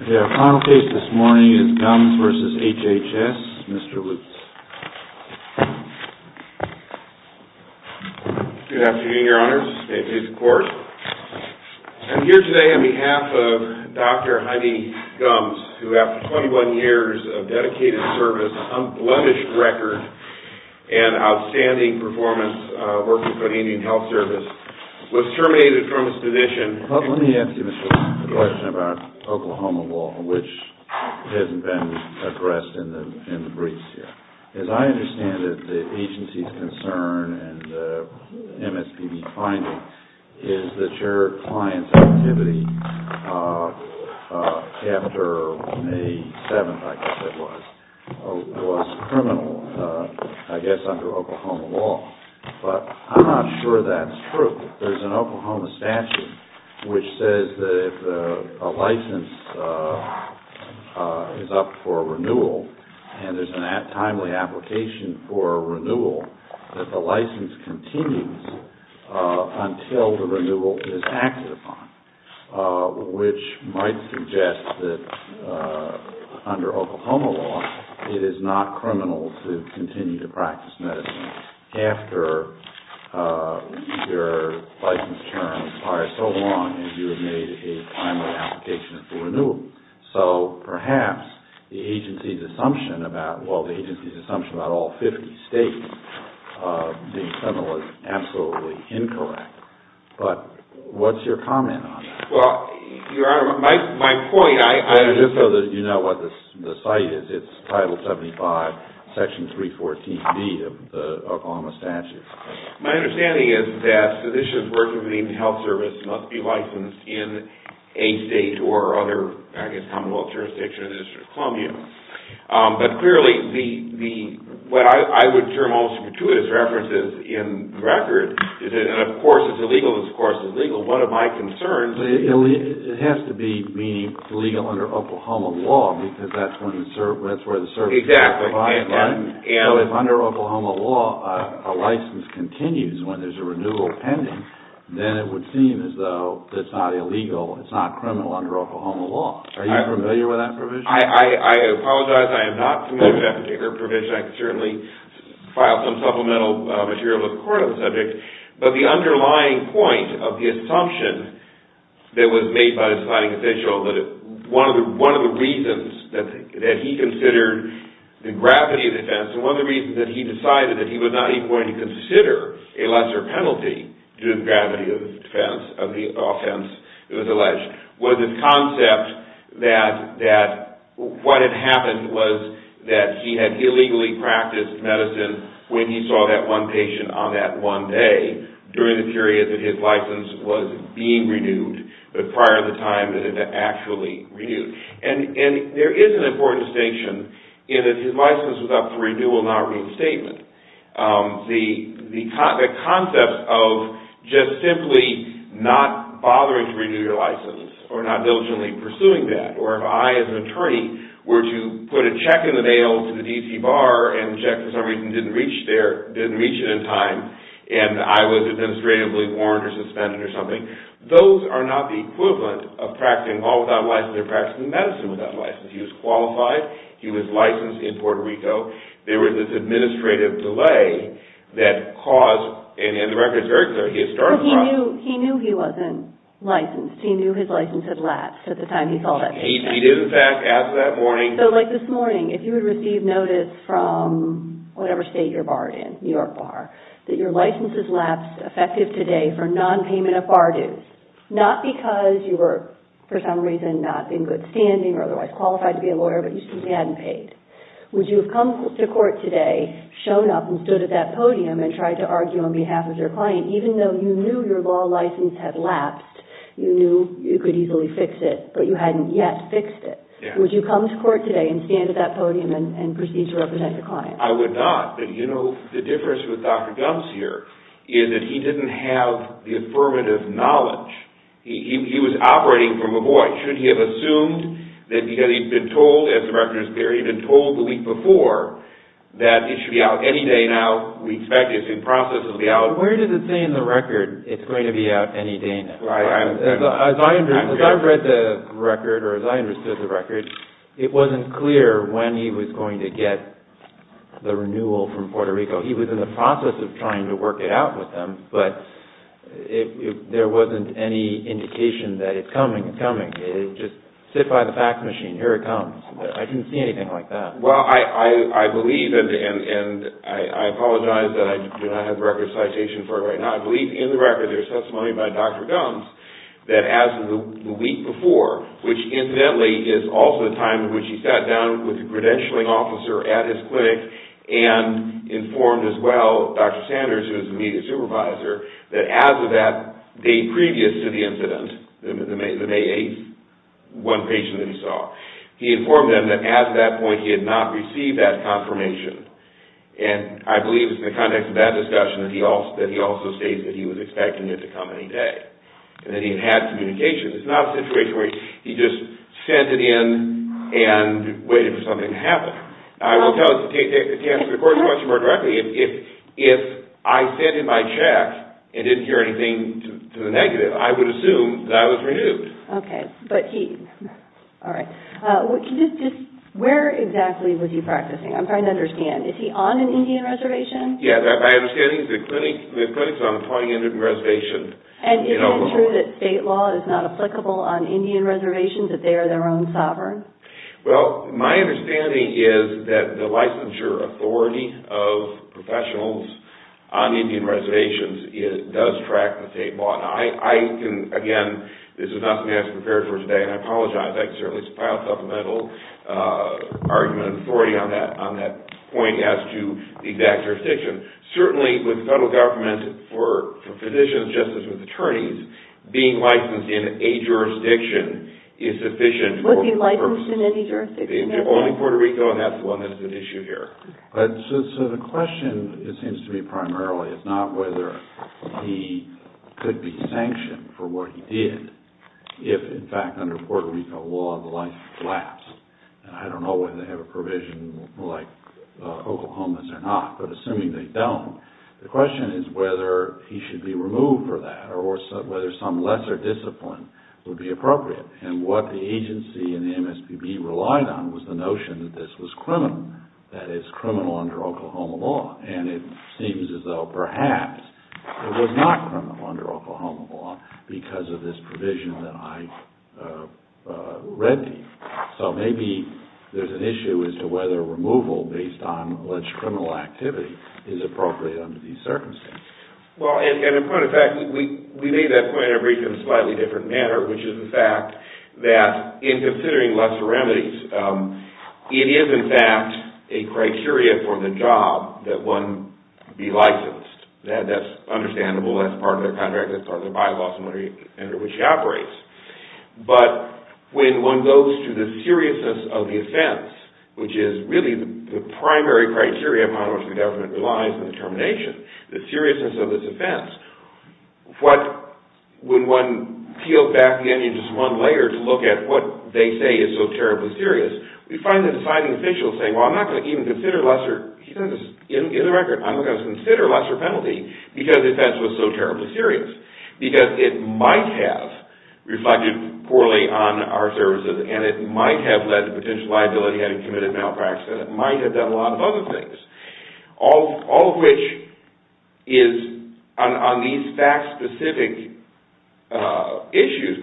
The final case this morning is Gums v. HHS. Mr. Lutz. Good afternoon, Your Honors. May it please the Court. I'm here today on behalf of Dr. Heidi Gums, who after 21 years of dedicated service, unblemished record, and outstanding performance working for the Indian Health Service, was terminated from his position. Let me ask you, Mr. Lutz, a question about Oklahoma law, which hasn't been addressed in the briefs yet. As I understand it, the agency's concern and the MSPB finding is that your client's activity after May 7th, I guess it was, was criminal, I guess under Oklahoma law. But I'm not sure that's true. There's an Oklahoma statute which says that if a license is up for renewal and there's a timely application for renewal, that the license continues until the renewal is acted upon, which might suggest that under Oklahoma law, it is not criminal to continue to practice medicine after your license term has expired so long as you have made a timely application for renewal. So perhaps the agency's assumption about, well, the agency's assumption about all 50 States being criminal is absolutely incorrect. But what's your comment on that? Well, Your Honor, my point, I... Just so that you know what the site is, it's Title 75, Section 314B of the Oklahoma statute. My understanding is that physicians working for the Indian Health Service must be licensed in a State or other, I guess, commonwealth jurisdiction or District of Columbia. But clearly, the... What I would term almost gratuitous references in the record is that, and of course it's illegal, of course it's illegal. One of my concerns... It has to be legal under Oklahoma law because that's where the services are provided. Exactly. So if under Oklahoma law, a license continues when there's a renewal pending, then it would seem as though it's not illegal, it's not criminal under Oklahoma law. Are you familiar with that provision? I apologize. I am not familiar with that particular provision. I could certainly file some supplemental material at the court on the subject. But the underlying point of the assumption that was made by the deciding official, that one of the reasons that he considered the gravity of the offense, and one of the reasons that he decided that he was not even going to consider a lesser penalty due to the gravity of the offense that was alleged, was the concept that what had happened was that he had illegally practiced medicine when he saw that one patient on that one day during the period that his license was being renewed, but prior to the time that it had actually renewed. And there is an important distinction in that his license was up for renewal, not reinstatement. The concept of just simply not bothering to renew your license, or not diligently pursuing that, or if I as an attorney were to put a check in the mail to the DC bar and the check for some reason didn't reach there, didn't reach it in time, and I was administratively warned or suspended or something, those are not the equivalent of practicing law without a license or practicing medicine without a license. He was qualified. He was licensed in Puerto Rico. There was this administrative delay that caused, and the record is very clear, he had started the process. He knew he wasn't licensed. He knew his license had lapsed at the time he saw that patient. He did in fact ask that morning. So like this morning, if you would receive notice from whatever state you're barred in, New York bar, that your license has lapsed effective today for non-payment of bar dues, not because you were for some reason not in good standing or otherwise qualified to be a lawyer, but you simply hadn't paid. Would you have come to court today, shown up and stood at that podium and tried to argue on behalf of your client, even though you knew your law license had lapsed? You knew you could easily fix it, but you hadn't yet fixed it. Would you come to court today and stand at that podium and proceed to represent your client? I would not, but you know the difference with Dr. Gumbs here is that he didn't have the affirmative knowledge. He was operating from a voice. Shouldn't he have assumed that because he'd been told, as the record is clear, he'd been told the week before, that it should be out any day now. We expect it's in process of being out. Where does it say in the record it's going to be out any day now? As I read the record, or as I understood the record, it wasn't clear when he was going to get the renewal from Puerto Rico. He was in the process of trying to work it out with them, but there wasn't any indication that it's coming, it's coming. It's just sit by the fax machine, here it comes. I didn't see anything like that. Well, I believe, and I apologize that I do not have a record citation for it right now. I believe in the record there's testimony by Dr. Gumbs that as of the week before, which incidentally is also the time in which he sat down with the credentialing officer at his clinic and informed as well Dr. Sanders, who was the media supervisor, that as of that day previous to the incident, the May 8th, one patient that he saw, he informed them that at that point he had not received that confirmation. And I believe it was in the context of that discussion that he also stated that he was expecting it to come any day. And that he had had communication. It's not a situation where he just sent it in and waited for something to happen. I will tell you, to answer the court's question more directly, if I sent in my check and didn't hear anything to the negative, I would assume that I was renewed. Okay, but he, all right. Where exactly was he practicing? I'm trying to understand. Is he on an Indian reservation? Yeah, my understanding is the clinic is on a 20 Indian reservation. And is it true that state law is not applicable on Indian reservations, that they are their own sovereign? Well, my understanding is that the licensure authority of professionals on Indian reservations does track the state law. And I can, again, this is not something I was prepared for today, and I apologize. I can certainly supply a supplemental argument of authority on that point as to the exact jurisdiction. Certainly with federal government, for physicians just as with attorneys, being licensed in a jurisdiction is sufficient. Was he licensed in any jurisdiction? Only Puerto Rico, and that's one that's an issue here. So the question, it seems to me, primarily is not whether he could be sanctioned for what he did if, in fact, under Puerto Rico law, the license lapsed. I don't know whether they have a provision like Oklahoma's or not, but assuming they don't, the question is whether he should be removed for that or whether some lesser discipline would be appropriate. And what the agency and the MSPB relied on was the notion that this was criminal, that it's criminal under Oklahoma law. And it seems as though perhaps it was not criminal under Oklahoma law because of this provision that I read to you. So maybe there's an issue as to whether removal based on alleged criminal activity is appropriate under these circumstances. Well, and a point of fact, we made that point of reach in a slightly different manner, which is the fact that in considering lesser remedies, it is, in fact, a criteria for the job that one be licensed. That's understandable. That's part of their contract. That's part of their bylaws under which he operates. But when one goes to the seriousness of the offense, which is really the primary criteria upon which the government relies in the termination, the seriousness of this offense, when one peels back the engine just one layer to look at what they say is so terribly serious, we find the deciding official saying, well, I'm not going to even consider lesser, in the record, I'm not going to consider lesser penalty because the offense was so terribly serious, because it might have reflected poorly on our services and it might have led to potential liability having committed a malpractice and it might have done a lot of other things, all of which is on these fact-specific issues,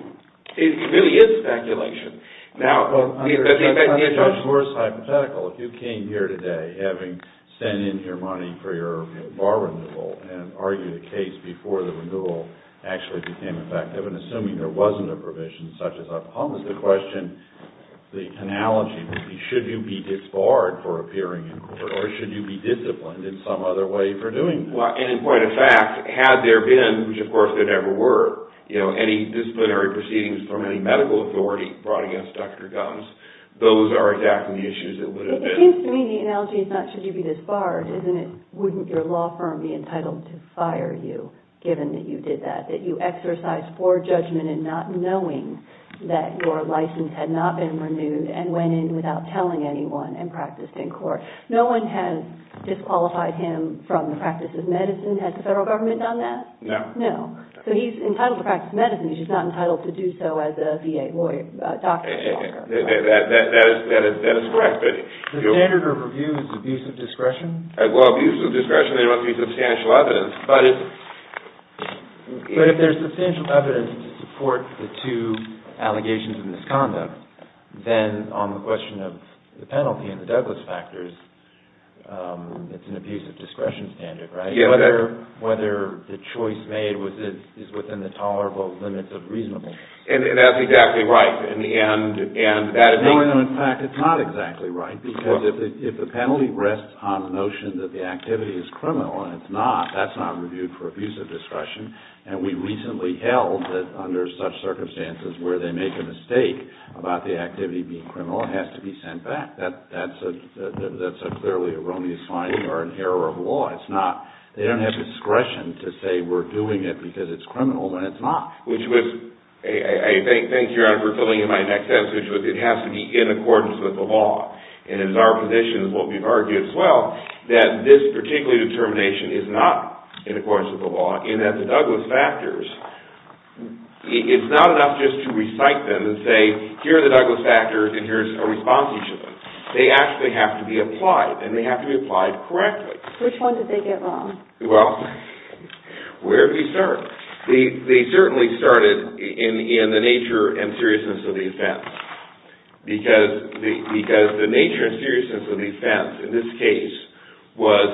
it really is speculation. Now, the adjudication... Well, I'm just hypothetical. If you came here today having sent in your money for your bar renewal and argued a case before the renewal actually became effective and assuming there wasn't a provision such as I promised to question, the analogy would be should you be disbarred for appearing in court or should you be disciplined in some other way for doing this? And in point of fact, had there been, which of course there never were, any disciplinary proceedings from any medical authority brought against Dr. Gumbs, those are exactly the issues that would have been... It seems to me the analogy is not should you be disbarred, isn't it? Should your law firm be entitled to fire you given that you did that, that you exercised poor judgment in not knowing that your license had not been renewed and went in without telling anyone and practiced in court? No one has disqualified him from the practice of medicine. Has the federal government done that? No. No. So he's entitled to practice medicine. He's just not entitled to do so as a VA doctor. That is correct. The standard of review is abuse of discretion. Well, abuse of discretion, there must be substantial evidence. But if there's substantial evidence to support the two allegations of misconduct, then on the question of the penalty and the Douglas factors, it's an abuse of discretion standard, right? Yes. Whether the choice made is within the tolerable limits of reasonable. And that's exactly right in the end. In fact, it's not exactly right because if the penalty rests on the notion that the activity is criminal and it's not, that's not reviewed for abuse of discretion. And we recently held that under such circumstances where they make a mistake about the activity being criminal, it has to be sent back. That's a clearly erroneous finding or an error of law. They don't have discretion to say we're doing it because it's criminal when it's not. Thank you, Your Honor, for filling in my next sentence. It has to be in accordance with the law. And it is our position, as we've argued as well, that this particular determination is not in accordance with the law and that the Douglas factors, it's not enough just to recite them and say, here are the Douglas factors and here's a response to each of them. They actually have to be applied and they have to be applied correctly. Which one did they get wrong? Well, where do you start? They certainly started in the nature and seriousness of the offense. Because the nature and seriousness of the offense in this case was,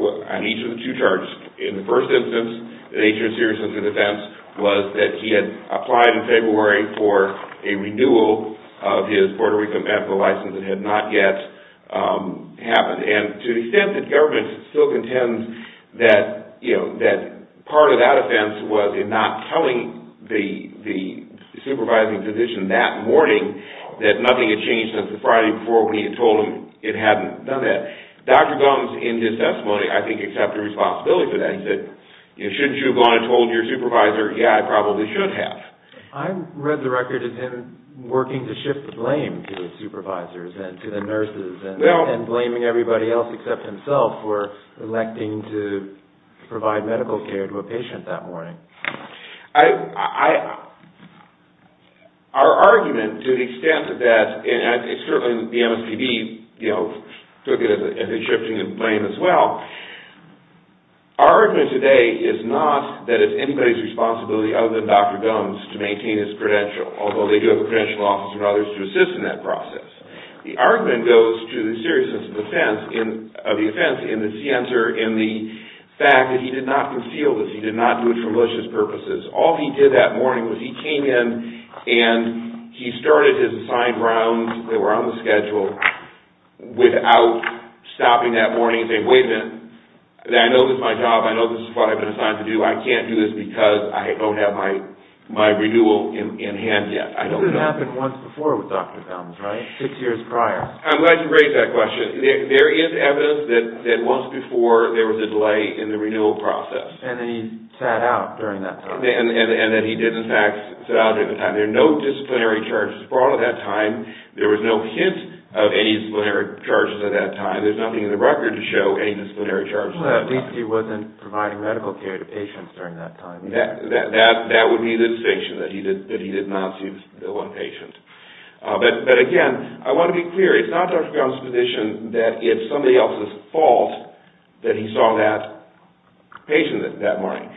on each of the two charges, in the first instance, the nature and seriousness of the offense was that he had applied in February for a renewal of his Puerto Rican medical license that had not yet happened. And to the extent that government still contends that part of that offense was in not telling the supervising physician that morning that nothing had changed since the Friday before when he had told them it hadn't done that. Dr. Gumbs, in his testimony, I think accepted responsibility for that. He said, shouldn't you have gone and told your supervisor, yeah, I probably should have. I read the record of him working to shift the blame to the supervisors and to the nurses and blaming everybody else except himself for electing to provide medical care to a patient that morning. Our argument to the extent that, and certainly the MSPB took it as a shifting of blame as well, our argument today is not that it's anybody's responsibility other than Dr. Gumbs to maintain his credential, although they do have a credential office and others to assist in that process. The argument goes to the seriousness of the offense in the fact that he did not conceal this. He did not do it for malicious purposes. All he did that morning was he came in and he started his assigned rounds that were on the schedule without stopping that morning and saying, wait a minute, I know this is my job. I know this is what I've been assigned to do. I can't do this because I don't have my renewal in hand yet. This happened once before with Dr. Gumbs, right, six years prior. I'm glad you raised that question. There is evidence that once before there was a delay in the renewal process. And then he sat out during that time. And then he did, in fact, sit out during that time. There are no disciplinary charges brought at that time. There was no hint of any disciplinary charges at that time. There's nothing in the record to show any disciplinary charges. Well, at least he wasn't providing medical care to patients during that time. That would be the distinction, that he did not see the one patient. But, again, I want to be clear. It's not Dr. Gumbs' position that it's somebody else's fault that he saw that patient that morning.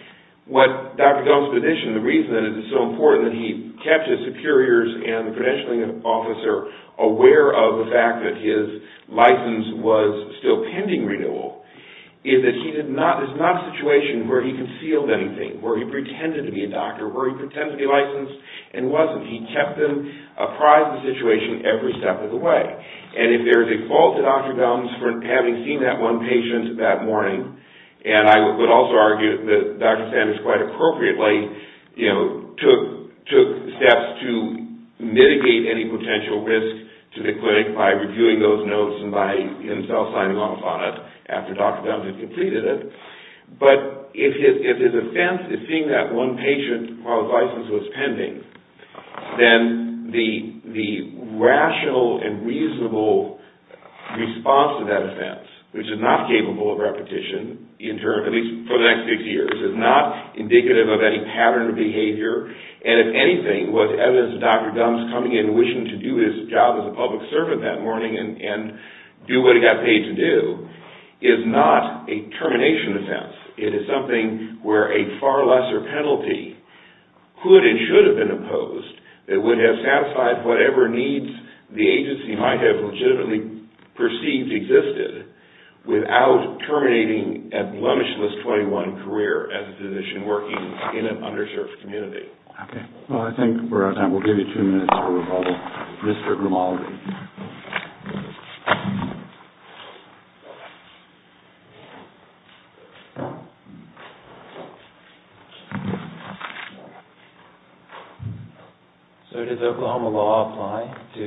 What Dr. Gumbs' position, the reason that it's so important that he kept his superiors and the credentialing officer aware of the fact that his license was still pending renewal, is that he did not, it's not a situation where he concealed anything, where he pretended to be a doctor, where he pretended to be licensed and wasn't. He kept them apprised of the situation every step of the way. And if there is a fault to Dr. Gumbs for having seen that one patient that morning, and I would also argue that Dr. Sanders quite appropriately, you know, took steps to mitigate any potential risk to the clinic by reviewing those notes and by himself signing off on it after Dr. Gumbs had completed it. But if his offense, if seeing that one patient while his license was pending, then the rational and reasonable response to that offense, which is not capable of repetition, at least for the next six years, is not indicative of any pattern of behavior. And if anything, as Dr. Gumbs coming in wishing to do his job as a public servant that morning and do what he got paid to do, is not a termination offense. It is something where a far lesser penalty could and should have been imposed that would have satisfied whatever needs the agency might have legitimately perceived existed without terminating a blemishless 21 career as a physician working in an underserved community. Well, I think we're out of time. We'll give you two minutes for rebuttal. Mr. Grimaldi. So does Oklahoma law apply to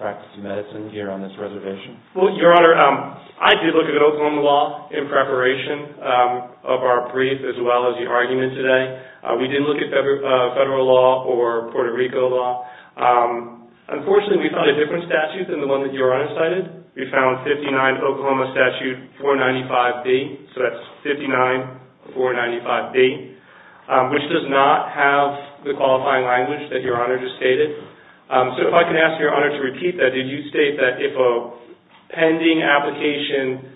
practice of medicine here on this reservation? Well, Your Honor, I did look at Oklahoma law in preparation of our brief as well as the argument today. We did look at federal law or Puerto Rico law. Unfortunately, we found a different statute than the one that Your Honor cited. We found 59 Oklahoma Statute 495B, so that's 59495B, which does not have the qualifying language that Your Honor just stated. So if I can ask Your Honor to repeat that, did you state that if a pending application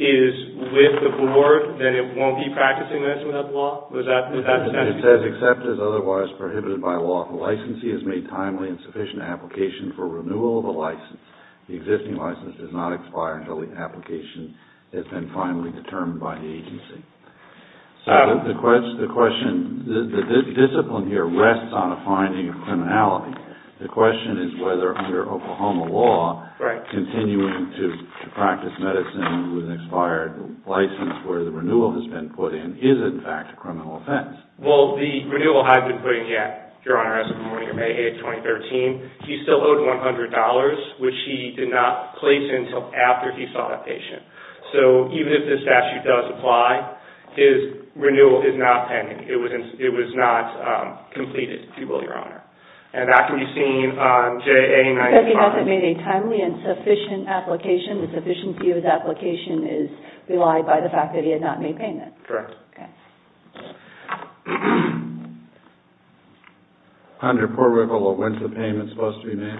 is with the board, then it won't be practicing medicine without the law? It says, except as otherwise prohibited by law, the licensee has made timely and sufficient application for renewal of a license. The existing license does not expire until the application has been finally determined by the agency. So the question, the discipline here rests on a finding of criminality. The question is whether under Oklahoma law, continuing to practice medicine with an expired license where the renewal has been put in is, in fact, a criminal offense. Well, the renewal I've been putting in, Your Honor, as of the morning of May 8, 2013, he still owed $100, which he did not place in until after he saw a patient. So even if this statute does apply, his renewal is not pending. It was not completed, if you will, Your Honor. And that can be seen on JA-95. So if he has made a timely and sufficient application, the sufficiency of the application is relied by the fact that he has not made payment. Correct. Okay. Hunter, poor wiggle, when's the payment supposed to be made?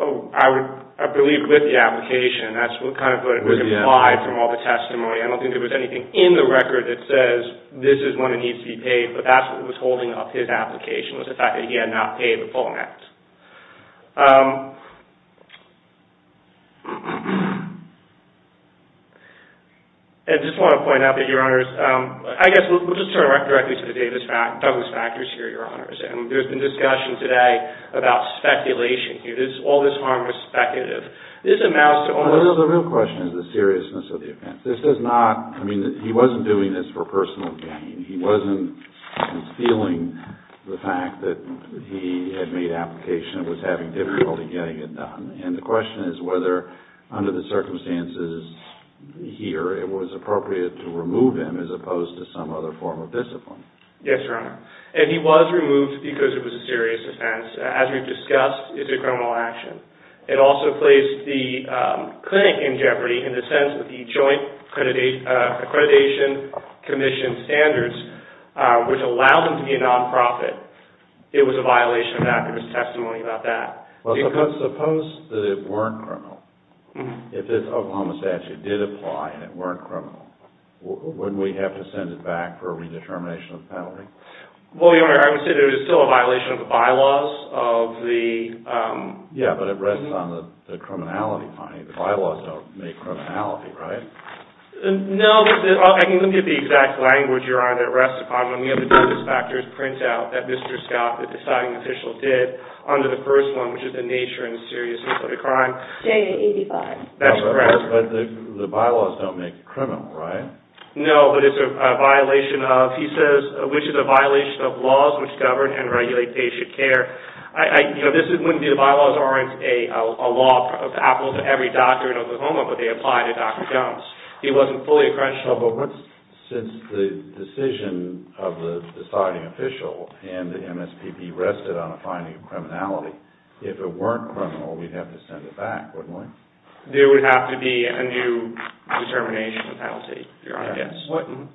Oh, I believe with the application. That's kind of what was implied from all the testimony. I don't think there was anything in the record that says this is when it needs to be paid, but that's what was holding up his application was the fact that he had not paid the full amount. I just want to point out that, Your Honors, I guess we'll just turn directly to the Douglas factors here, Your Honors, and there's been discussion today about speculation here. All this harm is speculative. This amounts to almost – Well, the real question is the seriousness of the offense. This is not – I mean, he wasn't doing this for personal gain. He wasn't feeling the fact that he had made application and was having difficulty getting it done. And the question is whether, under the circumstances here, it was appropriate to remove him as opposed to some other form of discipline. Yes, Your Honor. And he was removed because it was a serious offense. As we've discussed, it's a criminal action. It also placed the clinic in jeopardy in the sense that the Joint Accreditation Commission standards, which allow them to be a nonprofit, it was a violation of that. There was testimony about that. Well, suppose that it weren't criminal. If this Oklahoma statute did apply and it weren't criminal, wouldn't we have to send it back for a redetermination of the penalty? Well, Your Honor, I would say that it was still a violation of the bylaws of the – Yes, but it rests on the criminality finding. The bylaws don't make criminality, right? No. Let me give you the exact language, Your Honor. It rests upon when we have the judge's factors print out that Mr. Scott, the deciding official, did under the first one, which is the nature and seriousness of the crime. J-85. That's correct. But the bylaws don't make it criminal, right? No, but it's a violation of – he says, which is a violation of laws which govern and regulate patient care. You know, this wouldn't be – the bylaws aren't a law applicable to every doctor in Oklahoma, but they apply to Dr. Jones. He wasn't fully accredited. But what's – since the decision of the deciding official and the MSPB rested on a finding of criminality, if it weren't criminal, we'd have to send it back, wouldn't we? There would have to be a new determination of penalty, Your Honor, yes. Mr. Swinton,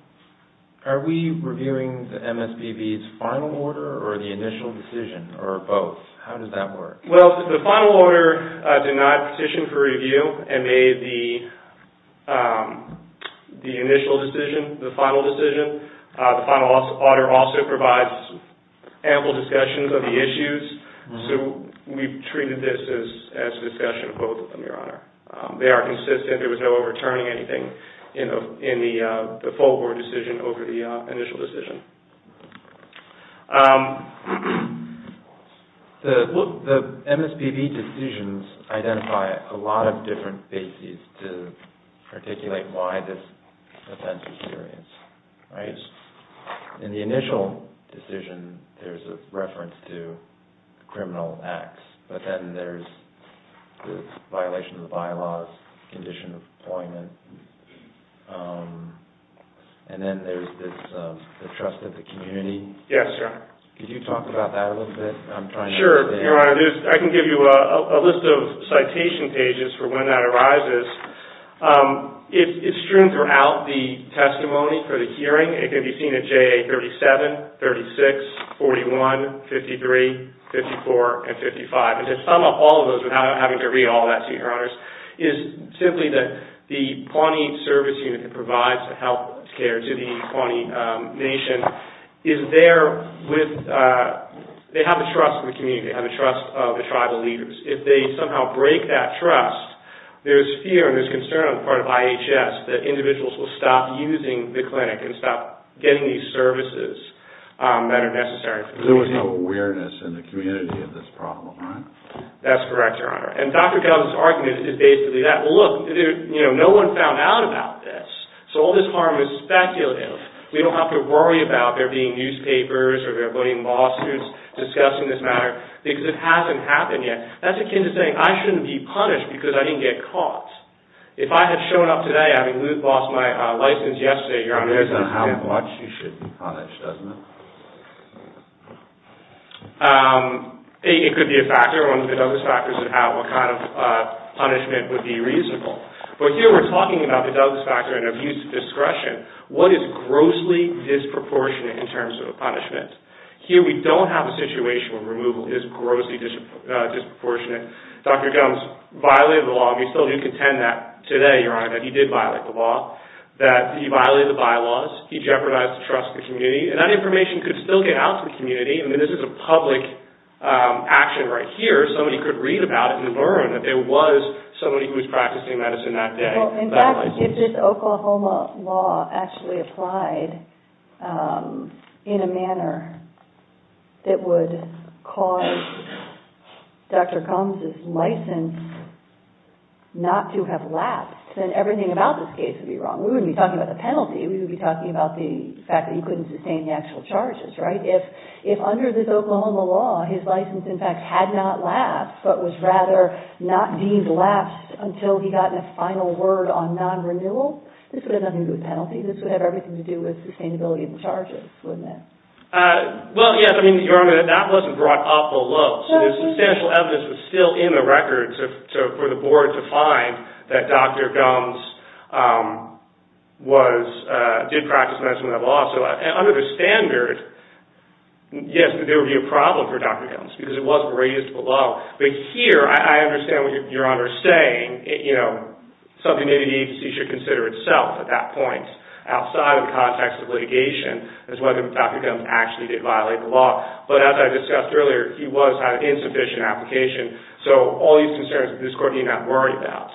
are we reviewing the MSPB's final order or the initial decision, or both? How does that work? Well, the final order did not petition for review and made the initial decision the final decision. The final order also provides ample discussions of the issues. So we've treated this as a discussion of both of them, Your Honor. They are consistent. There was no overturning anything in the full court decision over the initial decision. The MSPB decisions identify a lot of different bases to articulate why this offense is serious, right? In the initial decision, there's a reference to criminal acts, but then there's the violation of bylaws, condition of employment, and then there's the trust of the community. Yes, Your Honor. Could you talk about that a little bit? Sure, Your Honor. I can give you a list of citation pages for when that arises. It's strewn throughout the testimony for the hearing. It can be seen at JA 37, 36, 41, 53, 54, and 55. And to sum up all of those without having to read all that to you, Your Honors, is simply that the Pawnee Service Unit that provides the health care to the Pawnee Nation is there with – they have the trust of the community. They have the trust of the tribal leaders. If they somehow break that trust, there's fear and there's concern on the part of IHS that individuals will stop using the clinic and stop getting these services that are necessary. Because there was no awareness in the community of this problem, right? That's correct, Your Honor. And Dr. Gellman's argument is basically that, well, look, no one found out about this, so all this harm is speculative. We don't have to worry about there being newspapers or there being lawsuits discussing this matter because it hasn't happened yet. That's akin to saying I shouldn't be punished because I didn't get caught. If I had shown up today having loose-bossed my license yesterday, Your Honor – It depends on how much you should be punished, doesn't it? It could be a factor. One of the other factors is what kind of punishment would be reasonable. But here we're talking about the Douglas factor and abuse of discretion. What is grossly disproportionate in terms of a punishment? Here we don't have a situation where removal is grossly disproportionate. Dr. Gellman violated the law. We still do contend that today, Your Honor, that he did violate the law, that he violated the bylaws, he jeopardized the trust of the community, and that information could still get out to the community. I mean, this is a public action right here. Somebody could read about it and learn that there was somebody who was practicing medicine that day. Well, in fact, if this Oklahoma law actually applied in a manner that would cause Dr. Gumbs' license not to have lapsed, then everything about this case would be wrong. We wouldn't be talking about the penalty. We would be talking about the fact that he couldn't sustain the actual charges, right? If under this Oklahoma law, his license, in fact, had not lapsed, but was rather not deemed lapsed until he got a final word on non-renewal, this would have nothing to do with penalty. This would have everything to do with sustainability of the charges, wouldn't it? Well, yes. I mean, Your Honor, that wasn't brought up below. So there's substantial evidence that's still in the records for the board to find that Dr. Gumbs did practice medicine under the law. So under the standard, yes, there would be a problem for Dr. Gumbs because it wasn't raised below. But here, I understand what Your Honor is saying. You know, something maybe the agency should consider itself at that point, outside of the context of litigation, as whether Dr. Gumbs actually did violate the law. But as I discussed earlier, he was on insufficient application. So all these concerns of this court need not worry about.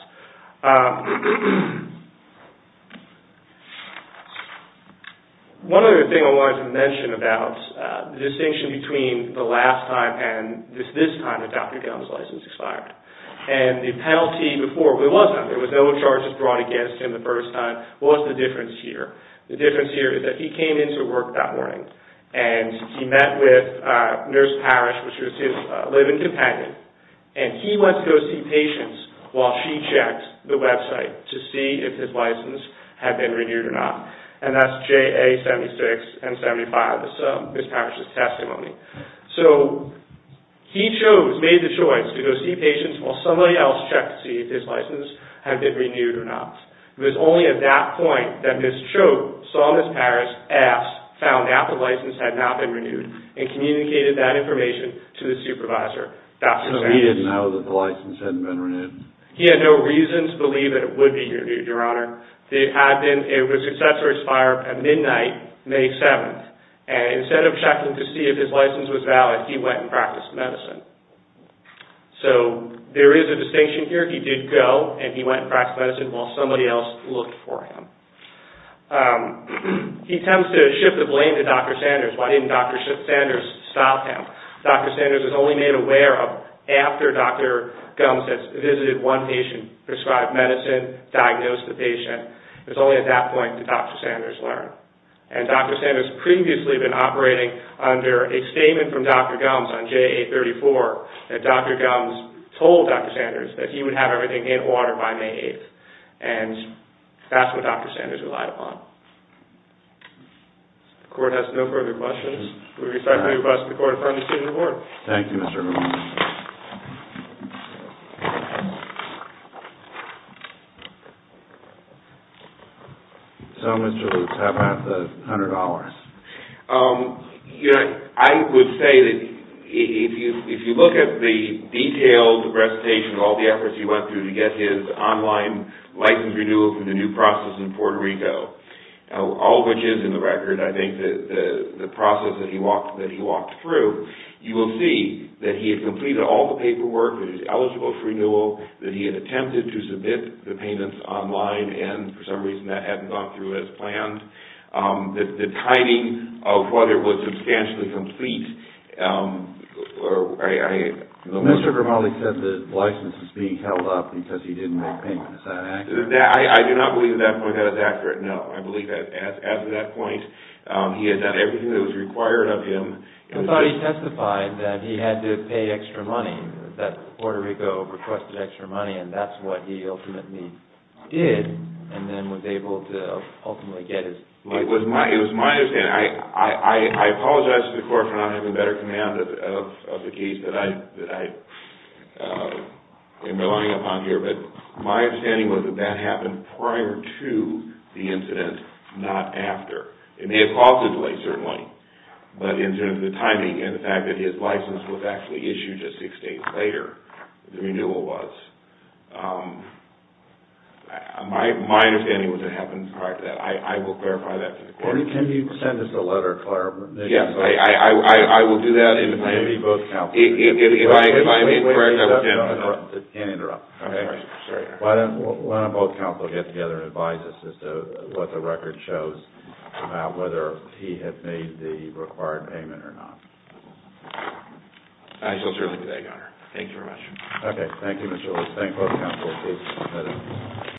One other thing I wanted to mention about the distinction between the last time and this time that Dr. Gumbs' license expired. And the penalty before, there was no charges brought against him the first time. What's the difference here? The difference here is that he came into work that morning, and he met with Nurse Parrish, which was his live-in companion. And he went to go see patients while she checked, to see if his license had been renewed or not. And that's JA 76 and 75, Ms. Parrish's testimony. So he chose, made the choice to go see patients while somebody else checked to see if his license had been renewed or not. It was only at that point that Ms. Choate saw Ms. Parrish, asked, found out the license had not been renewed, and communicated that information to the supervisor, Dr. Gumbs. So he didn't know that the license hadn't been renewed? He had no reason to believe that it would be renewed, Your Honor. It was successfully expired at midnight, May 7th. And instead of checking to see if his license was valid, he went and practiced medicine. So there is a distinction here. He did go, and he went and practiced medicine while somebody else looked for him. He attempts to shift the blame to Dr. Sanders. Why didn't Dr. Sanders stop him? Dr. Sanders was only made aware of after Dr. Gumbs had visited one patient, prescribed medicine, diagnosed the patient. It was only at that point that Dr. Sanders learned. And Dr. Sanders had previously been operating under a statement from Dr. Gumbs on JA 834 that Dr. Gumbs told Dr. Sanders that he would have everything in order by May 8th. And that's what Dr. Sanders relied upon. The Court has no further questions. We received 100 bucks from the Court in front of the Senior Board. Thank you, Mr. Gumbs. So, Mr. Lutz, how about the $100? You know, I would say that if you look at the detailed recitation of all the efforts he went through to get his online license renewed for the new process in Puerto Rico, all of which is in the record, I think, the process that he walked through, you will see that he had completed all the paperwork that is eligible for renewal, that he had attempted to submit the payments online and, for some reason, that hadn't gone through as planned. The timing of whether it was substantially complete, I don't know. Mr. Grimaldi said the license was being held up because he didn't make payments. Is that accurate? I do not believe at that point that is accurate, no. I believe that at that point he had done everything that was required of him. I thought he testified that he had to pay extra money, that Puerto Rico requested extra money, and that's what he ultimately did and then was able to ultimately get his license. It was my understanding. I apologize to the Court for not having better command of the case that I am relying upon here, but my understanding was that that happened prior to the incident, not after. It may have caused a delay, certainly, but in terms of the timing and the fact that his license was actually issued just six days later, the renewal was, my understanding was it happened prior to that. I will clarify that to the Court. Can you send us a letter of clarification? Yes, I will do that. If I may interrupt. You can't interrupt. Why don't both counsel get together and advise us as to what the record shows about whether he had made the required payment or not. I shall certainly do that, Your Honor. Thank you very much. Okay. Thank you, Mr. Lewis. Thank both counsels.